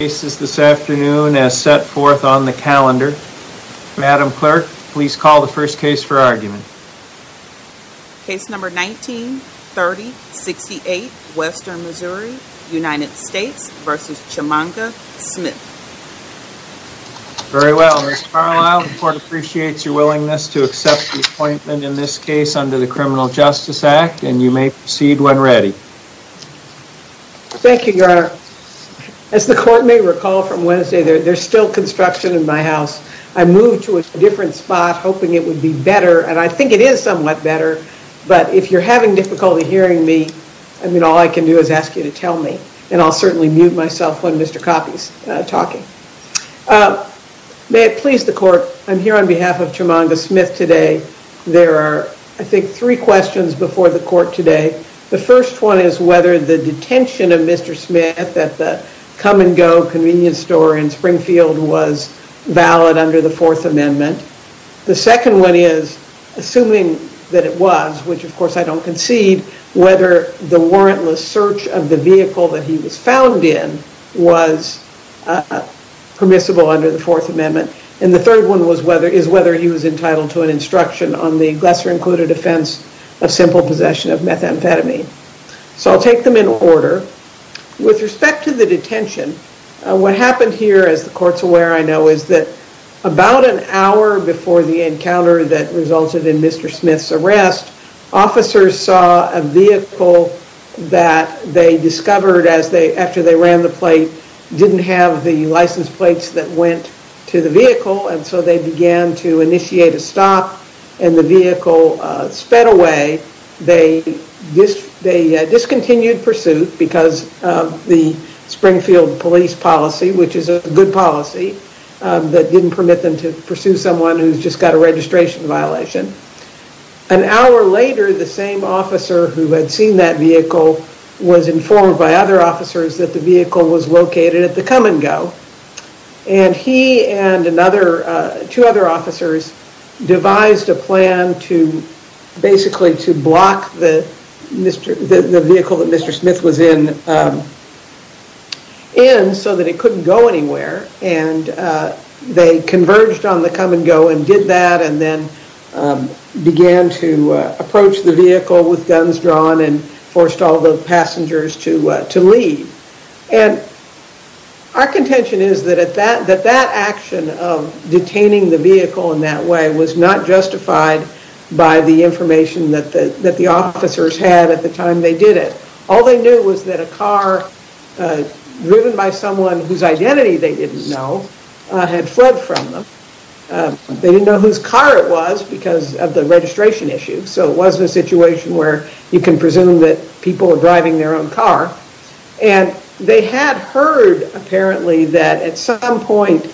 cases this afternoon as set forth on the calendar. Madam Clerk, please call the first case for argument. Case number 19-30-68, Western Missouri, United States v. Chimanga Smith. Very well, Ms. Carlisle, the court appreciates your willingness to accept the appointment in this case under the Criminal Justice Act, and you may proceed when ready. Thank you, Your Honor. As the court may recall from Wednesday, there's still construction in my house. I moved to a different spot, hoping it would be better, and I think it is somewhat better, but if you're having difficulty hearing me, I mean, all I can do is ask you to tell me, and I'll certainly mute myself when Mr. Coffey's talking. May it please the court, I'm here on behalf of Chimanga Smith today. There are, I think, three questions before the court today. The first one is whether the detention of Mr. Smith at the come-and-go convenience store in Springfield was valid under the Fourth Amendment. The second one is, assuming that it was, which of course I don't concede, whether the warrantless search of the vehicle that he was found in was permissible under the Fourth Amendment. And the third one is whether he was entitled to an instruction on the lesser-included offense of simple possession of methamphetamine. So I'll take them in order. With respect to the detention, what happened here, as the court's aware I know, is that about an hour before the encounter that resulted in Mr. Smith's arrest, officers saw a the license plates that went to the vehicle, and so they began to initiate a stop, and the vehicle sped away. They discontinued pursuit because of the Springfield police policy, which is a good policy that didn't permit them to pursue someone who's just got a registration violation. An hour later, the same officer who had seen that vehicle was informed by other officers that the vehicle was located at the come-and-go, and he and another two other officers devised a plan to basically to block the vehicle that Mr. Smith was in so that it couldn't go anywhere. And they converged on the come-and-go and did that, and then began to approach the vehicle with guns drawn and forced all the Our contention is that that action of detaining the vehicle in that way was not justified by the information that the officers had at the time they did it. All they knew was that a car driven by someone whose identity they didn't know had fled from them. They didn't know whose car it was because of the registration issue, so it wasn't a situation where you can presume that people are driving their own car. And they had heard apparently that at some point,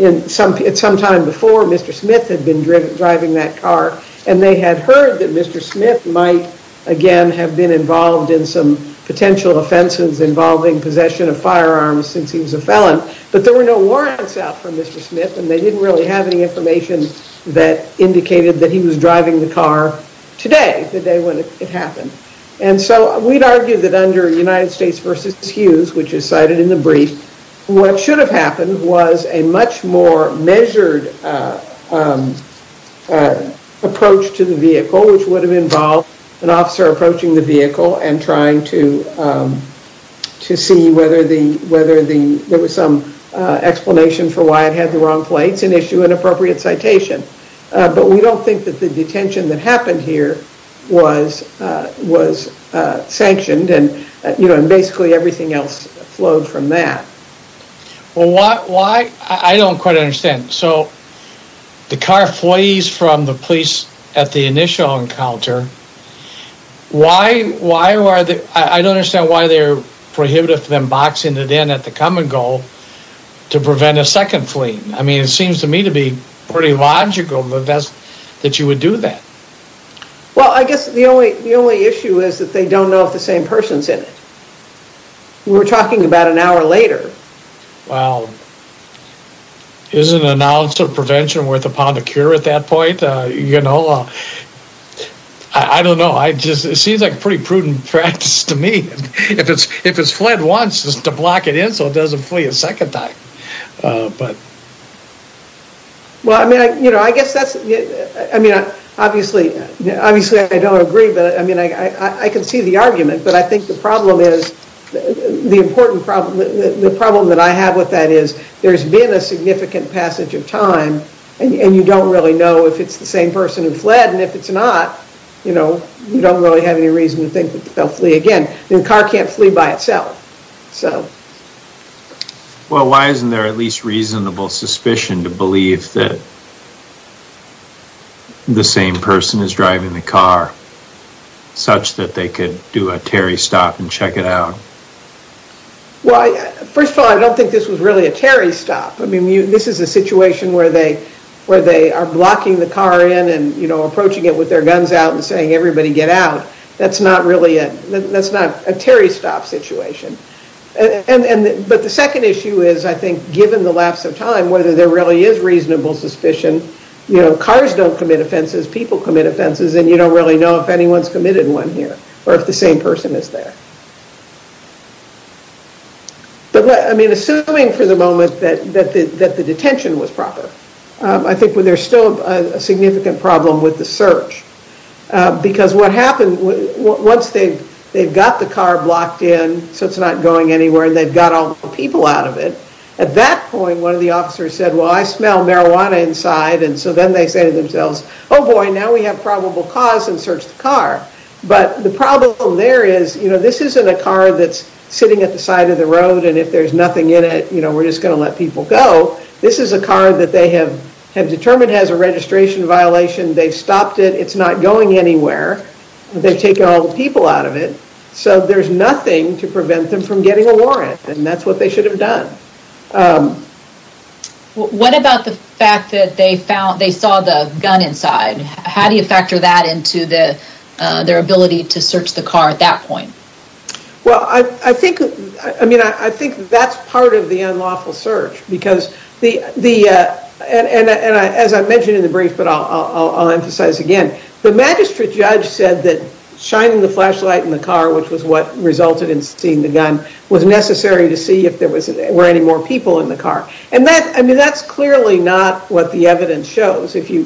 at some time before, Mr. Smith had been driving that car, and they had heard that Mr. Smith might again have been involved in some potential offenses involving possession of firearms since he was a felon, but there were no warrants out for Mr. Smith, and they didn't really have any information that indicated that he was under United States v. Hughes, which is cited in the brief. What should have happened was a much more measured approach to the vehicle, which would have involved an officer approaching the vehicle and trying to see whether there was some explanation for why it had the wrong plates and issue an appropriate citation. But we don't think that the detention that happened here was sanctioned and basically everything else flowed from that. Well, I don't quite understand. So the car flees from the police at the initial encounter. I don't understand why they're prohibitive of them boxing it in at the come and go to prevent a second fleeing. I mean, it seems to me to be pretty logical that you would do that. Well, I guess the only issue is that they don't know if the same person's in it. We're talking about an hour later. Well, isn't an ounce of prevention worth a pound of cure at that point? You know, I don't know. It just seems like pretty prudent practice to me. If it's fled once, just to block it in so it doesn't flee a second time. Well, I mean, I guess that's, I mean, obviously I don't agree, but I mean, I can see the argument. But I think the problem is, the important problem, the problem that I have with that is there's been a significant passage of time and you don't really know if it's the same person who fled. And if it's not, you know, you don't really have any reason to think that they'll flee again. The car can't flee by itself. So. Well, why isn't there at least reasonable suspicion to believe that the same person is driving the car such that they could do a Terry stop and check it out? Well, first of all, I don't think this was really a Terry stop. I mean, this is a situation where they are blocking the car in and, you know, approaching it with their guns out and everybody get out. That's not really a, that's not a Terry stop situation. But the second issue is, I think, given the lapse of time, whether there really is reasonable suspicion, you know, cars don't commit offenses, people commit offenses, and you don't really know if anyone's committed one here or if the same person is there. But, I mean, assuming for the moment that the detention was proper, I think there's still a significant problem with the search. Because what happened, once they've got the car blocked in, so it's not going anywhere, and they've got all the people out of it, at that point one of the officers said, well, I smell marijuana inside. And so then they say to themselves, oh boy, now we have probable cause and search the car. But the problem there is, you know, this isn't a car that's sitting at the side of the road and if there's nothing in it, you know, we're just going to let people go. This is a car that they have determined has a registration violation. They've stopped it. It's not going anywhere. They've taken all the people out of it. So there's nothing to prevent them from getting a warrant. And that's what they should have done. What about the fact that they saw the gun inside? How do you factor that into their ability to search the car at that point? Well, I think, I mean, I think that's part of the unlawful search. Because the, and as I mentioned in the brief, but I'll emphasize again, the magistrate judge said that shining the flashlight in the car, which was what resulted in seeing the gun, was necessary to see if there were any more people in the car. And that, I mean, that's clearly not what the evidence shows. If you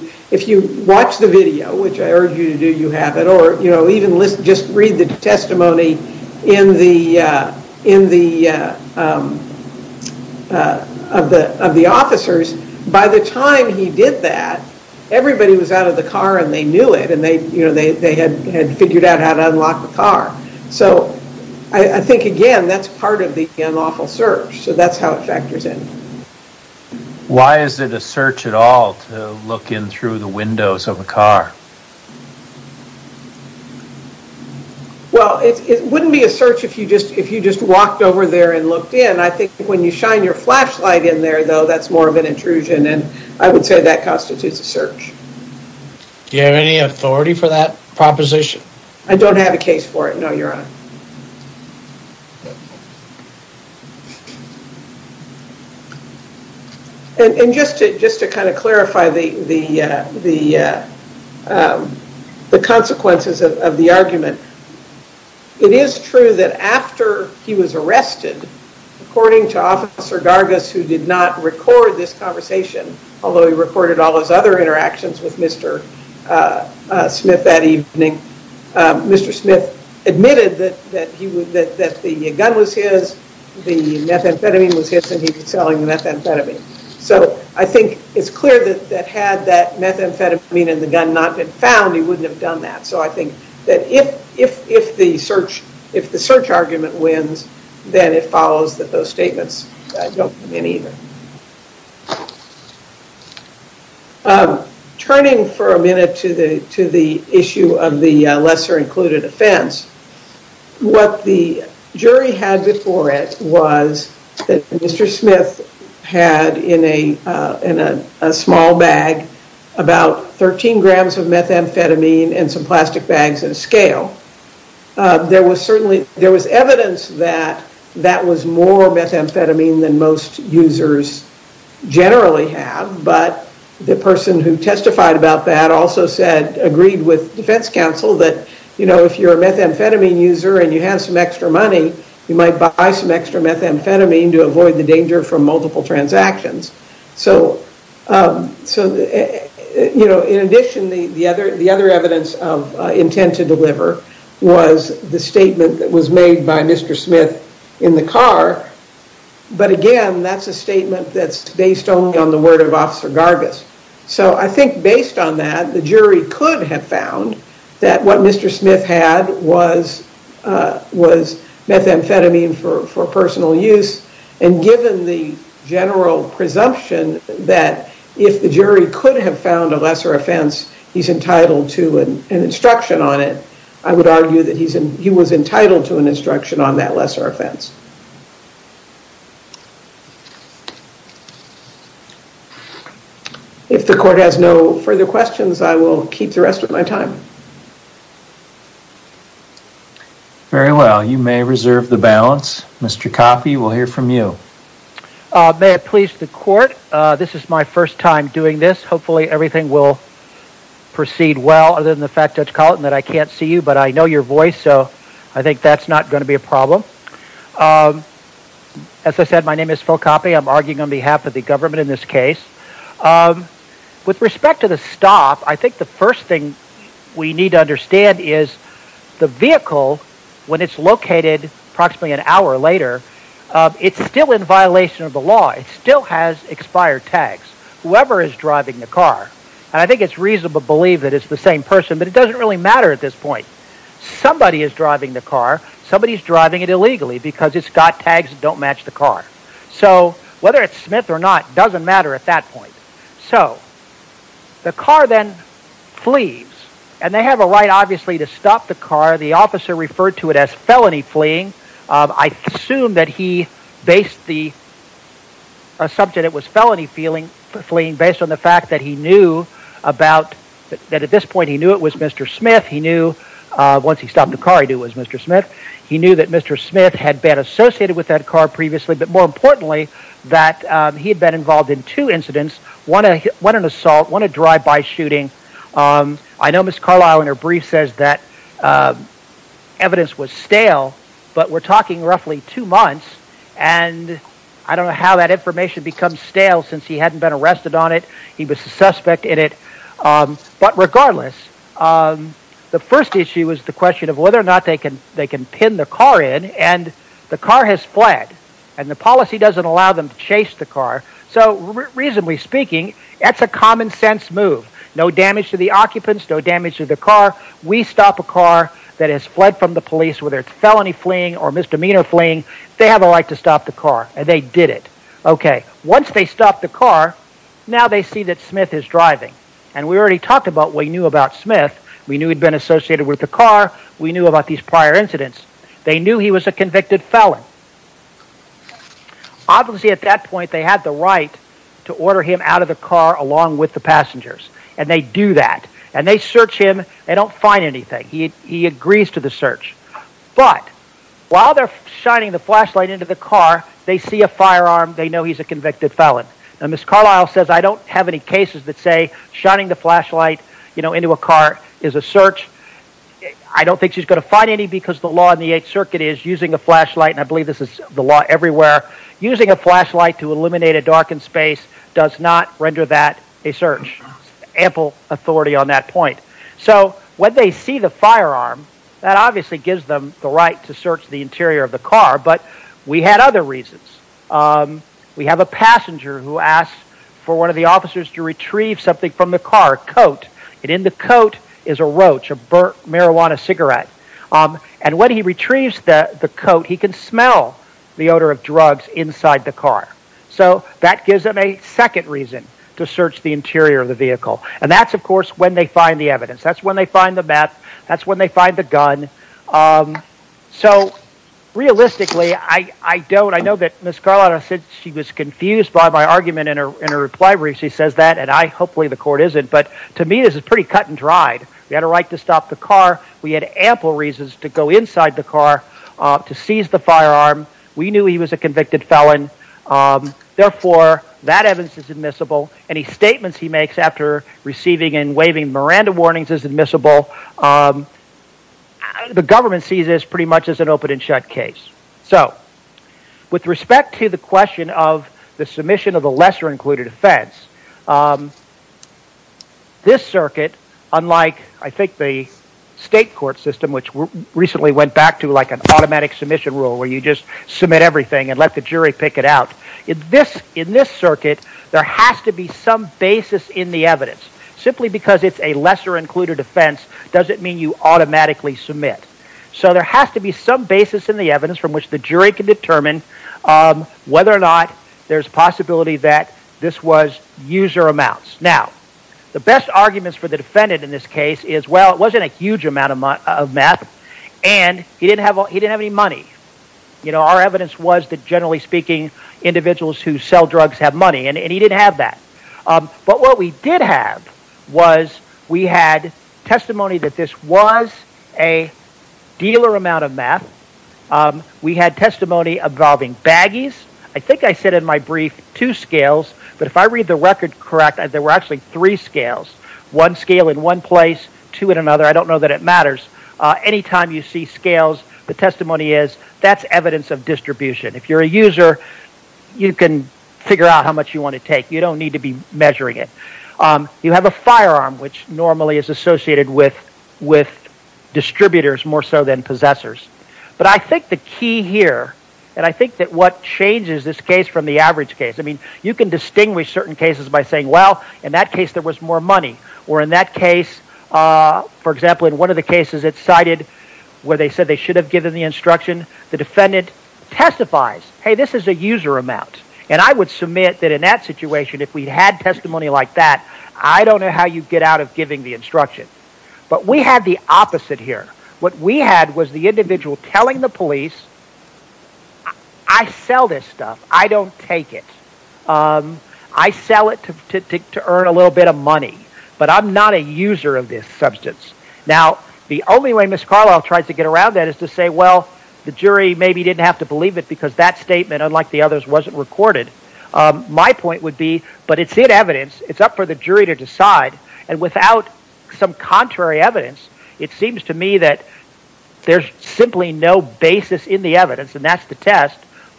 watch the video, which I urge you to do, you have it. Or, you know, even listen, read the testimony of the officers. By the time he did that, everybody was out of the car and they knew it. And they, you know, they had figured out how to unlock the car. So I think, again, that's part of the unlawful search. So that's how it factors in. Why is it a search at all to look in through the windows of a car? Well, it wouldn't be a search if you just, if you just walked over there and looked in. I think when you shine your flashlight in there, though, that's more of an intrusion. And I would say that constitutes a search. Do you have any authority for that proposition? I don't have a case for it. No, your honor. And just to kind of clarify the consequences of the argument, it is true that after he was arrested, according to Officer Gargas, who did not record this conversation, although he recorded all those other interactions with Mr. Smith that evening, Mr. Smith admitted that the gun was his, the methamphetamine was his, and he was selling the methamphetamine. So I think it's clear that had that methamphetamine in the gun not been found, he wouldn't have done that. So I think that if the search argument wins, then it follows that those statements don't win either. Turning for a minute to the issue of the lesser included offense, what the jury had before it was that Mr. Smith had in a small bag about 13 grams of methamphetamine and some plastic bags and a scale. There was certainly, there was evidence that that was more methamphetamine than most users generally have. But the person who testified about that also said, agreed with defense counsel that if you're a methamphetamine user and you have some extra money, you might buy some extra methamphetamine to avoid the danger from multiple transactions. So in addition, the other evidence of intent to deliver was the statement that was made by Gargis. But again, that's a statement that's based only on the word of Officer Gargis. So I think based on that, the jury could have found that what Mr. Smith had was methamphetamine for personal use. And given the general presumption that if the jury could have found a lesser offense, he's entitled to an instruction on it. I would argue that he was entitled to an instruction. If the court has no further questions, I will keep the rest of my time. Very well. You may reserve the balance. Mr. Coffey, we'll hear from you. May it please the court. This is my first time doing this. Hopefully everything will proceed well, other than the fact that I can't see you, but I know your voice. So I think that's not going to be a problem. As I said, my name is Phil Coffey. I'm arguing on behalf of the government in this case. With respect to the stop, I think the first thing we need to understand is the vehicle, when it's located approximately an hour later, it's still in violation of the law. It still has expired tags. Whoever is driving the car, and I think it's reasonable to believe that it's the same person, but it doesn't really matter at this point. Somebody is driving the car. Somebody is driving it illegally, because it's got tags that don't match the car. So whether it's Smith or not doesn't matter at that point. So the car then flees, and they have a right, obviously, to stop the car. The officer referred to it as felony fleeing. I assume that he based the subject it was felony fleeing based on the fact that he knew it was Mr. Smith. He knew once he stopped the car he knew it was Mr. Smith. He knew that Mr. Smith had been associated with that car previously, but more importantly that he had been involved in two incidents, one an assault, one a drive-by shooting. I know Ms. Carlisle in her brief says that evidence was stale, but we're talking roughly two months, and I don't know how that information becomes stale since he hadn't been arrested on it. He was a suspect in it. But regardless, the first issue is the question of whether or not they can pin the car in, and the car has fled, and the policy doesn't allow them to chase the car. So reasonably speaking, that's a common sense move. No damage to the occupants, no damage to the car. We stop a car that has fled from the police, whether it's felony fleeing or misdemeanor fleeing, they have a right to stop the car, and they did it. Okay, once they stopped the car, now they see that Smith is driving, and we already talked about what we knew about Smith. We knew he'd been associated with the car. We knew about these prior incidents. They knew he was a convicted felon. Obviously at that point they had the right to order him out of the car along with the passengers, and they do that, and they search him. They don't find anything. He agrees to the search, but while they're shining the flashlight into the car, they see a firearm. They know he's a convicted felon, and Ms. Carlisle says, I don't have any cases that say shining the flashlight into a car is a search. I don't think she's going to find any because the law in the Eighth Circuit is using a flashlight, and I believe this is the law everywhere. Using a flashlight to eliminate a darkened space does not render that a search. Ample authority on that point. So when they see the firearm, that obviously gives them the right to search the interior of the car, but we had other reasons. We have a passenger who asks for one of the officers to retrieve something from the car coat, and in the coat is a roach, a burnt marijuana cigarette, and when he retrieves the coat, he can smell the odor of drugs inside the car. So that gives them a second reason to search the interior of the vehicle, and that's of course when they find the evidence. That's when they find the map. That's when they find the gun. So realistically, I don't, I know that Ms. Carlisle said she was confused by my argument in her reply where she says that, and I, hopefully the court isn't, but to me this is pretty cut and dried. We had a right to stop the car. We had ample reasons to go inside the car to seize the firearm. We knew he was a convicted felon. Therefore, that evidence is admissible. Any statements he makes after receiving and waiving Miranda warnings is admissible. The government sees this pretty much as an open and shut case. So with respect to the question of the submission of the lesser included offense, this circuit, unlike I think the state court system, which recently went back to like an automatic submission rule where you just submit everything and let the jury pick it out, in this circuit there has to be some basis in the evidence. Simply because it's a lesser included offense doesn't mean you automatically submit. So there has to be some basis in the evidence from which the jury can determine whether or not there's possibility that this was user amounts. Now, the best arguments for the defendant in this case is, well, it wasn't a huge amount of math, and he didn't have any money. You know, our evidence was that, generally speaking, individuals who sell drugs have money, and he didn't have that. But what we did have was we had testimony that this was a dealer amount of math. We had testimony involving baggies. I think I said in my brief two scales, but if I read the record correct, there were actually three scales. One scale in one place, two in another. I don't know if you're a user, you can figure out how much you want to take. You don't need to be measuring it. You have a firearm, which normally is associated with distributors more so than possessors. But I think the key here, and I think that what changes this case from the average case, I mean, you can distinguish certain cases by saying, well, in that case there was more money, or in that case, for example, in one of the cases it cited where they said they should have given the instruction, the defendant testifies, hey, this is a user amount. And I would submit that in that situation, if we had testimony like that, I don't know how you get out of giving the instruction. But we had the opposite here. What we had was the individual telling the police, I sell this stuff, I don't take it. I sell it to earn a little bit of money, but I'm not a user of this substance. Now, the only way Ms. Carlisle tried to get around that is to say, well, the jury maybe didn't have to believe it because that statement, unlike the others, wasn't recorded. My point would be, but it's in evidence. It's up for the jury to decide. And without some contrary evidence, it seems to me that there's simply no basis in the evidence, and that's the test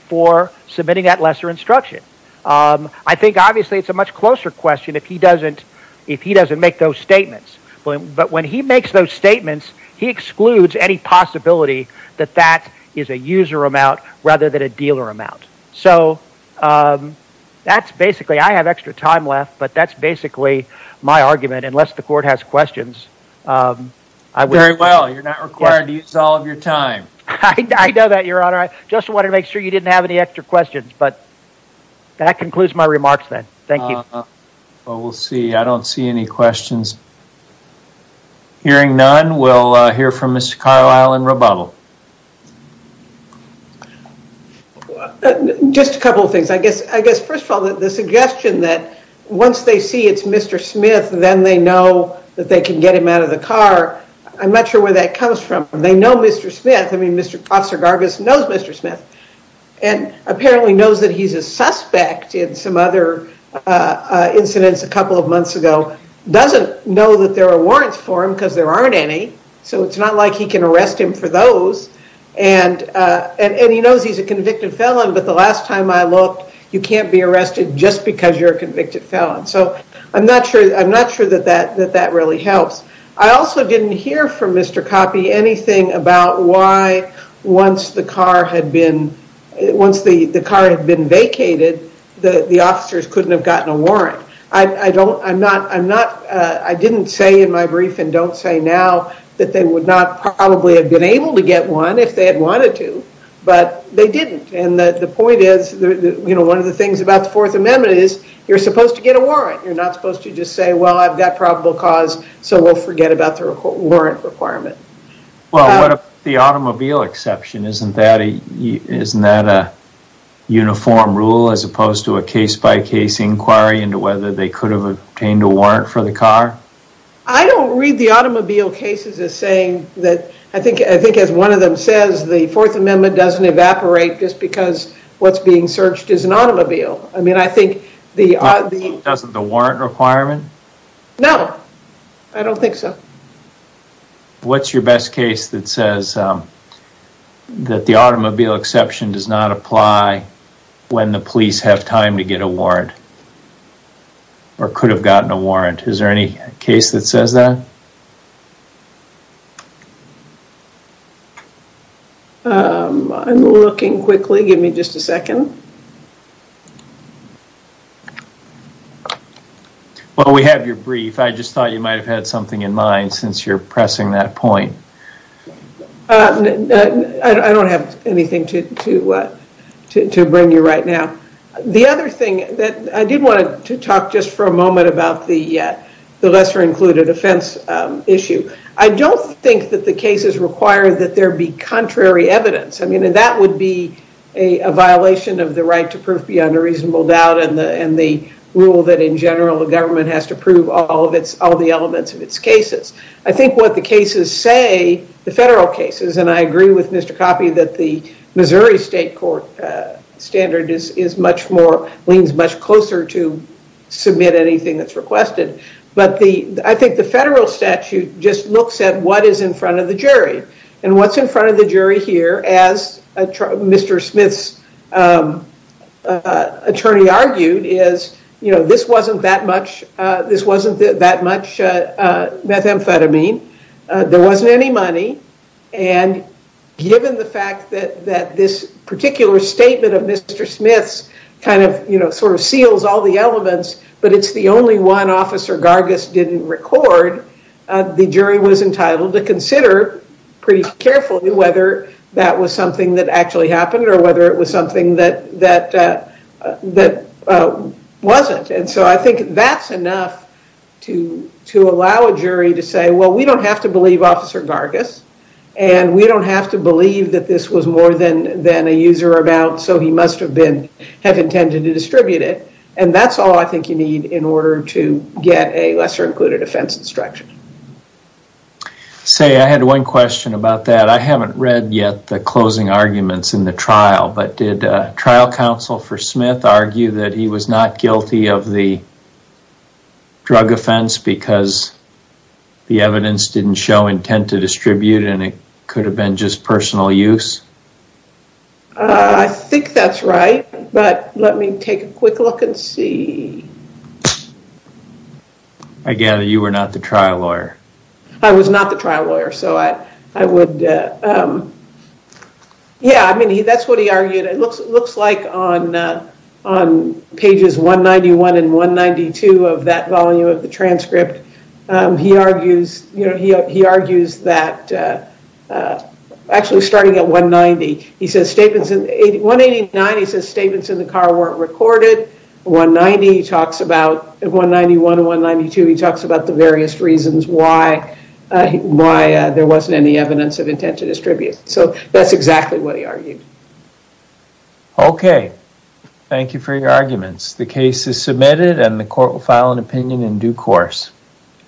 for submitting that lesser instruction. I think obviously it's a much closer question if he doesn't make those statements. But when he makes those statements, he excludes any possibility that that is a user amount rather than a dealer amount. So that's basically, I have extra time left, but that's basically my argument, unless the court has questions. Very well. You're not required to use all of your time. I know that, Your Honor. I just wanted to make sure you didn't have any extra questions. But that concludes my remarks then. Thank you. Well, we'll see. I don't see any questions. Hearing none, we'll hear from Mr. Carlisle and rebuttal. Just a couple of things. I guess, first of all, the suggestion that once they see it's Mr. Smith, then they know that they can get him out of the car. I'm not sure where that comes from. They know Mr. Smith. I mean, Officer Gargus knows Mr. Smith and apparently knows that he's a suspect in some other incidents a couple of months ago. He doesn't know that there are warrants for him because there aren't any. So it's not like he can arrest him for those. And he knows he's a convicted felon. But the last time I looked, you can't be arrested just because you're a convicted felon. So I'm not sure that that really helps. I also didn't hear from Mr. Coppi anything about once the car had been vacated, the officers couldn't have gotten a warrant. I didn't say in my brief and don't say now that they would not probably have been able to get one if they had wanted to. But they didn't. And the point is, one of the things about the Fourth Amendment is, you're supposed to get a warrant. You're not supposed to just say, well, I've got probable cause, so we'll forget about the warrant requirement. Well, what about the automobile exception? Isn't that a uniform rule as opposed to a case-by-case inquiry into whether they could have obtained a warrant for the car? I don't read the automobile cases as saying that. I think as one of them says, the Fourth Amendment doesn't evaporate just because what's being searched is an automobile. I mean, I think the... Doesn't the warrant requirement? No, I don't think so. What's your best case that says that the automobile exception does not apply when the police have time to get a warrant or could have gotten a warrant? Is there any case that says that? I'm looking quickly. Give me just a second. Well, we have your brief. I just thought you might have had something in mind since you're pressing that point. I don't have anything to bring you right now. The other thing that I did want to talk just for a moment about the lesser-included offense issue. I don't think that the cases require that there be contrary evidence. I mean, that would be a violation of the right to prove beyond a reasonable doubt and the rule that, in general, the government has to prove all the elements of its cases. I think what the cases say, the federal cases, and I agree with Mr. Coffey that the Missouri State Court standard leans much closer to submit anything that's requested. But I think the federal statute just looks at what is in front of the jury. And what's in front of the jury here, as Mr. Smith's attorney argued, is, you know, this wasn't that much methamphetamine. There wasn't any money. And given the fact that this particular statement of Mr. Smith's kind of, you know, sort of seals all the elements, but it's the only one Officer Gargis didn't record, the jury was entitled to consider pretty carefully whether that was something that actually happened or whether it was something that wasn't. And so I think that's enough to allow a jury to say, well, we don't have to believe Officer Gargis, and we don't have to believe that this was more than a user about, so he must have intended to distribute it. And that's all I think you need in order to get a lesser included offense instruction. Say, I had one question about that. I haven't read yet the closing arguments in the trial, but did trial counsel for Smith argue that he was not guilty of the drug offense because the evidence didn't show intent to distribute and it could have been just personal use? I think that's right, but let me take a quick look and see. I gather you were not the trial lawyer. I was not the trial lawyer, so I would, yeah, I mean, that's what he argued. It looks like on pages 191 and 192 of that volume of the He says statements in 189, he says statements in the car weren't recorded. 190 talks about, 191 and 192, he talks about the various reasons why there wasn't any evidence of intent to distribute. So that's exactly what he argued. Okay, thank you for your arguments. The case is submitted and the court will file an opinion in due course.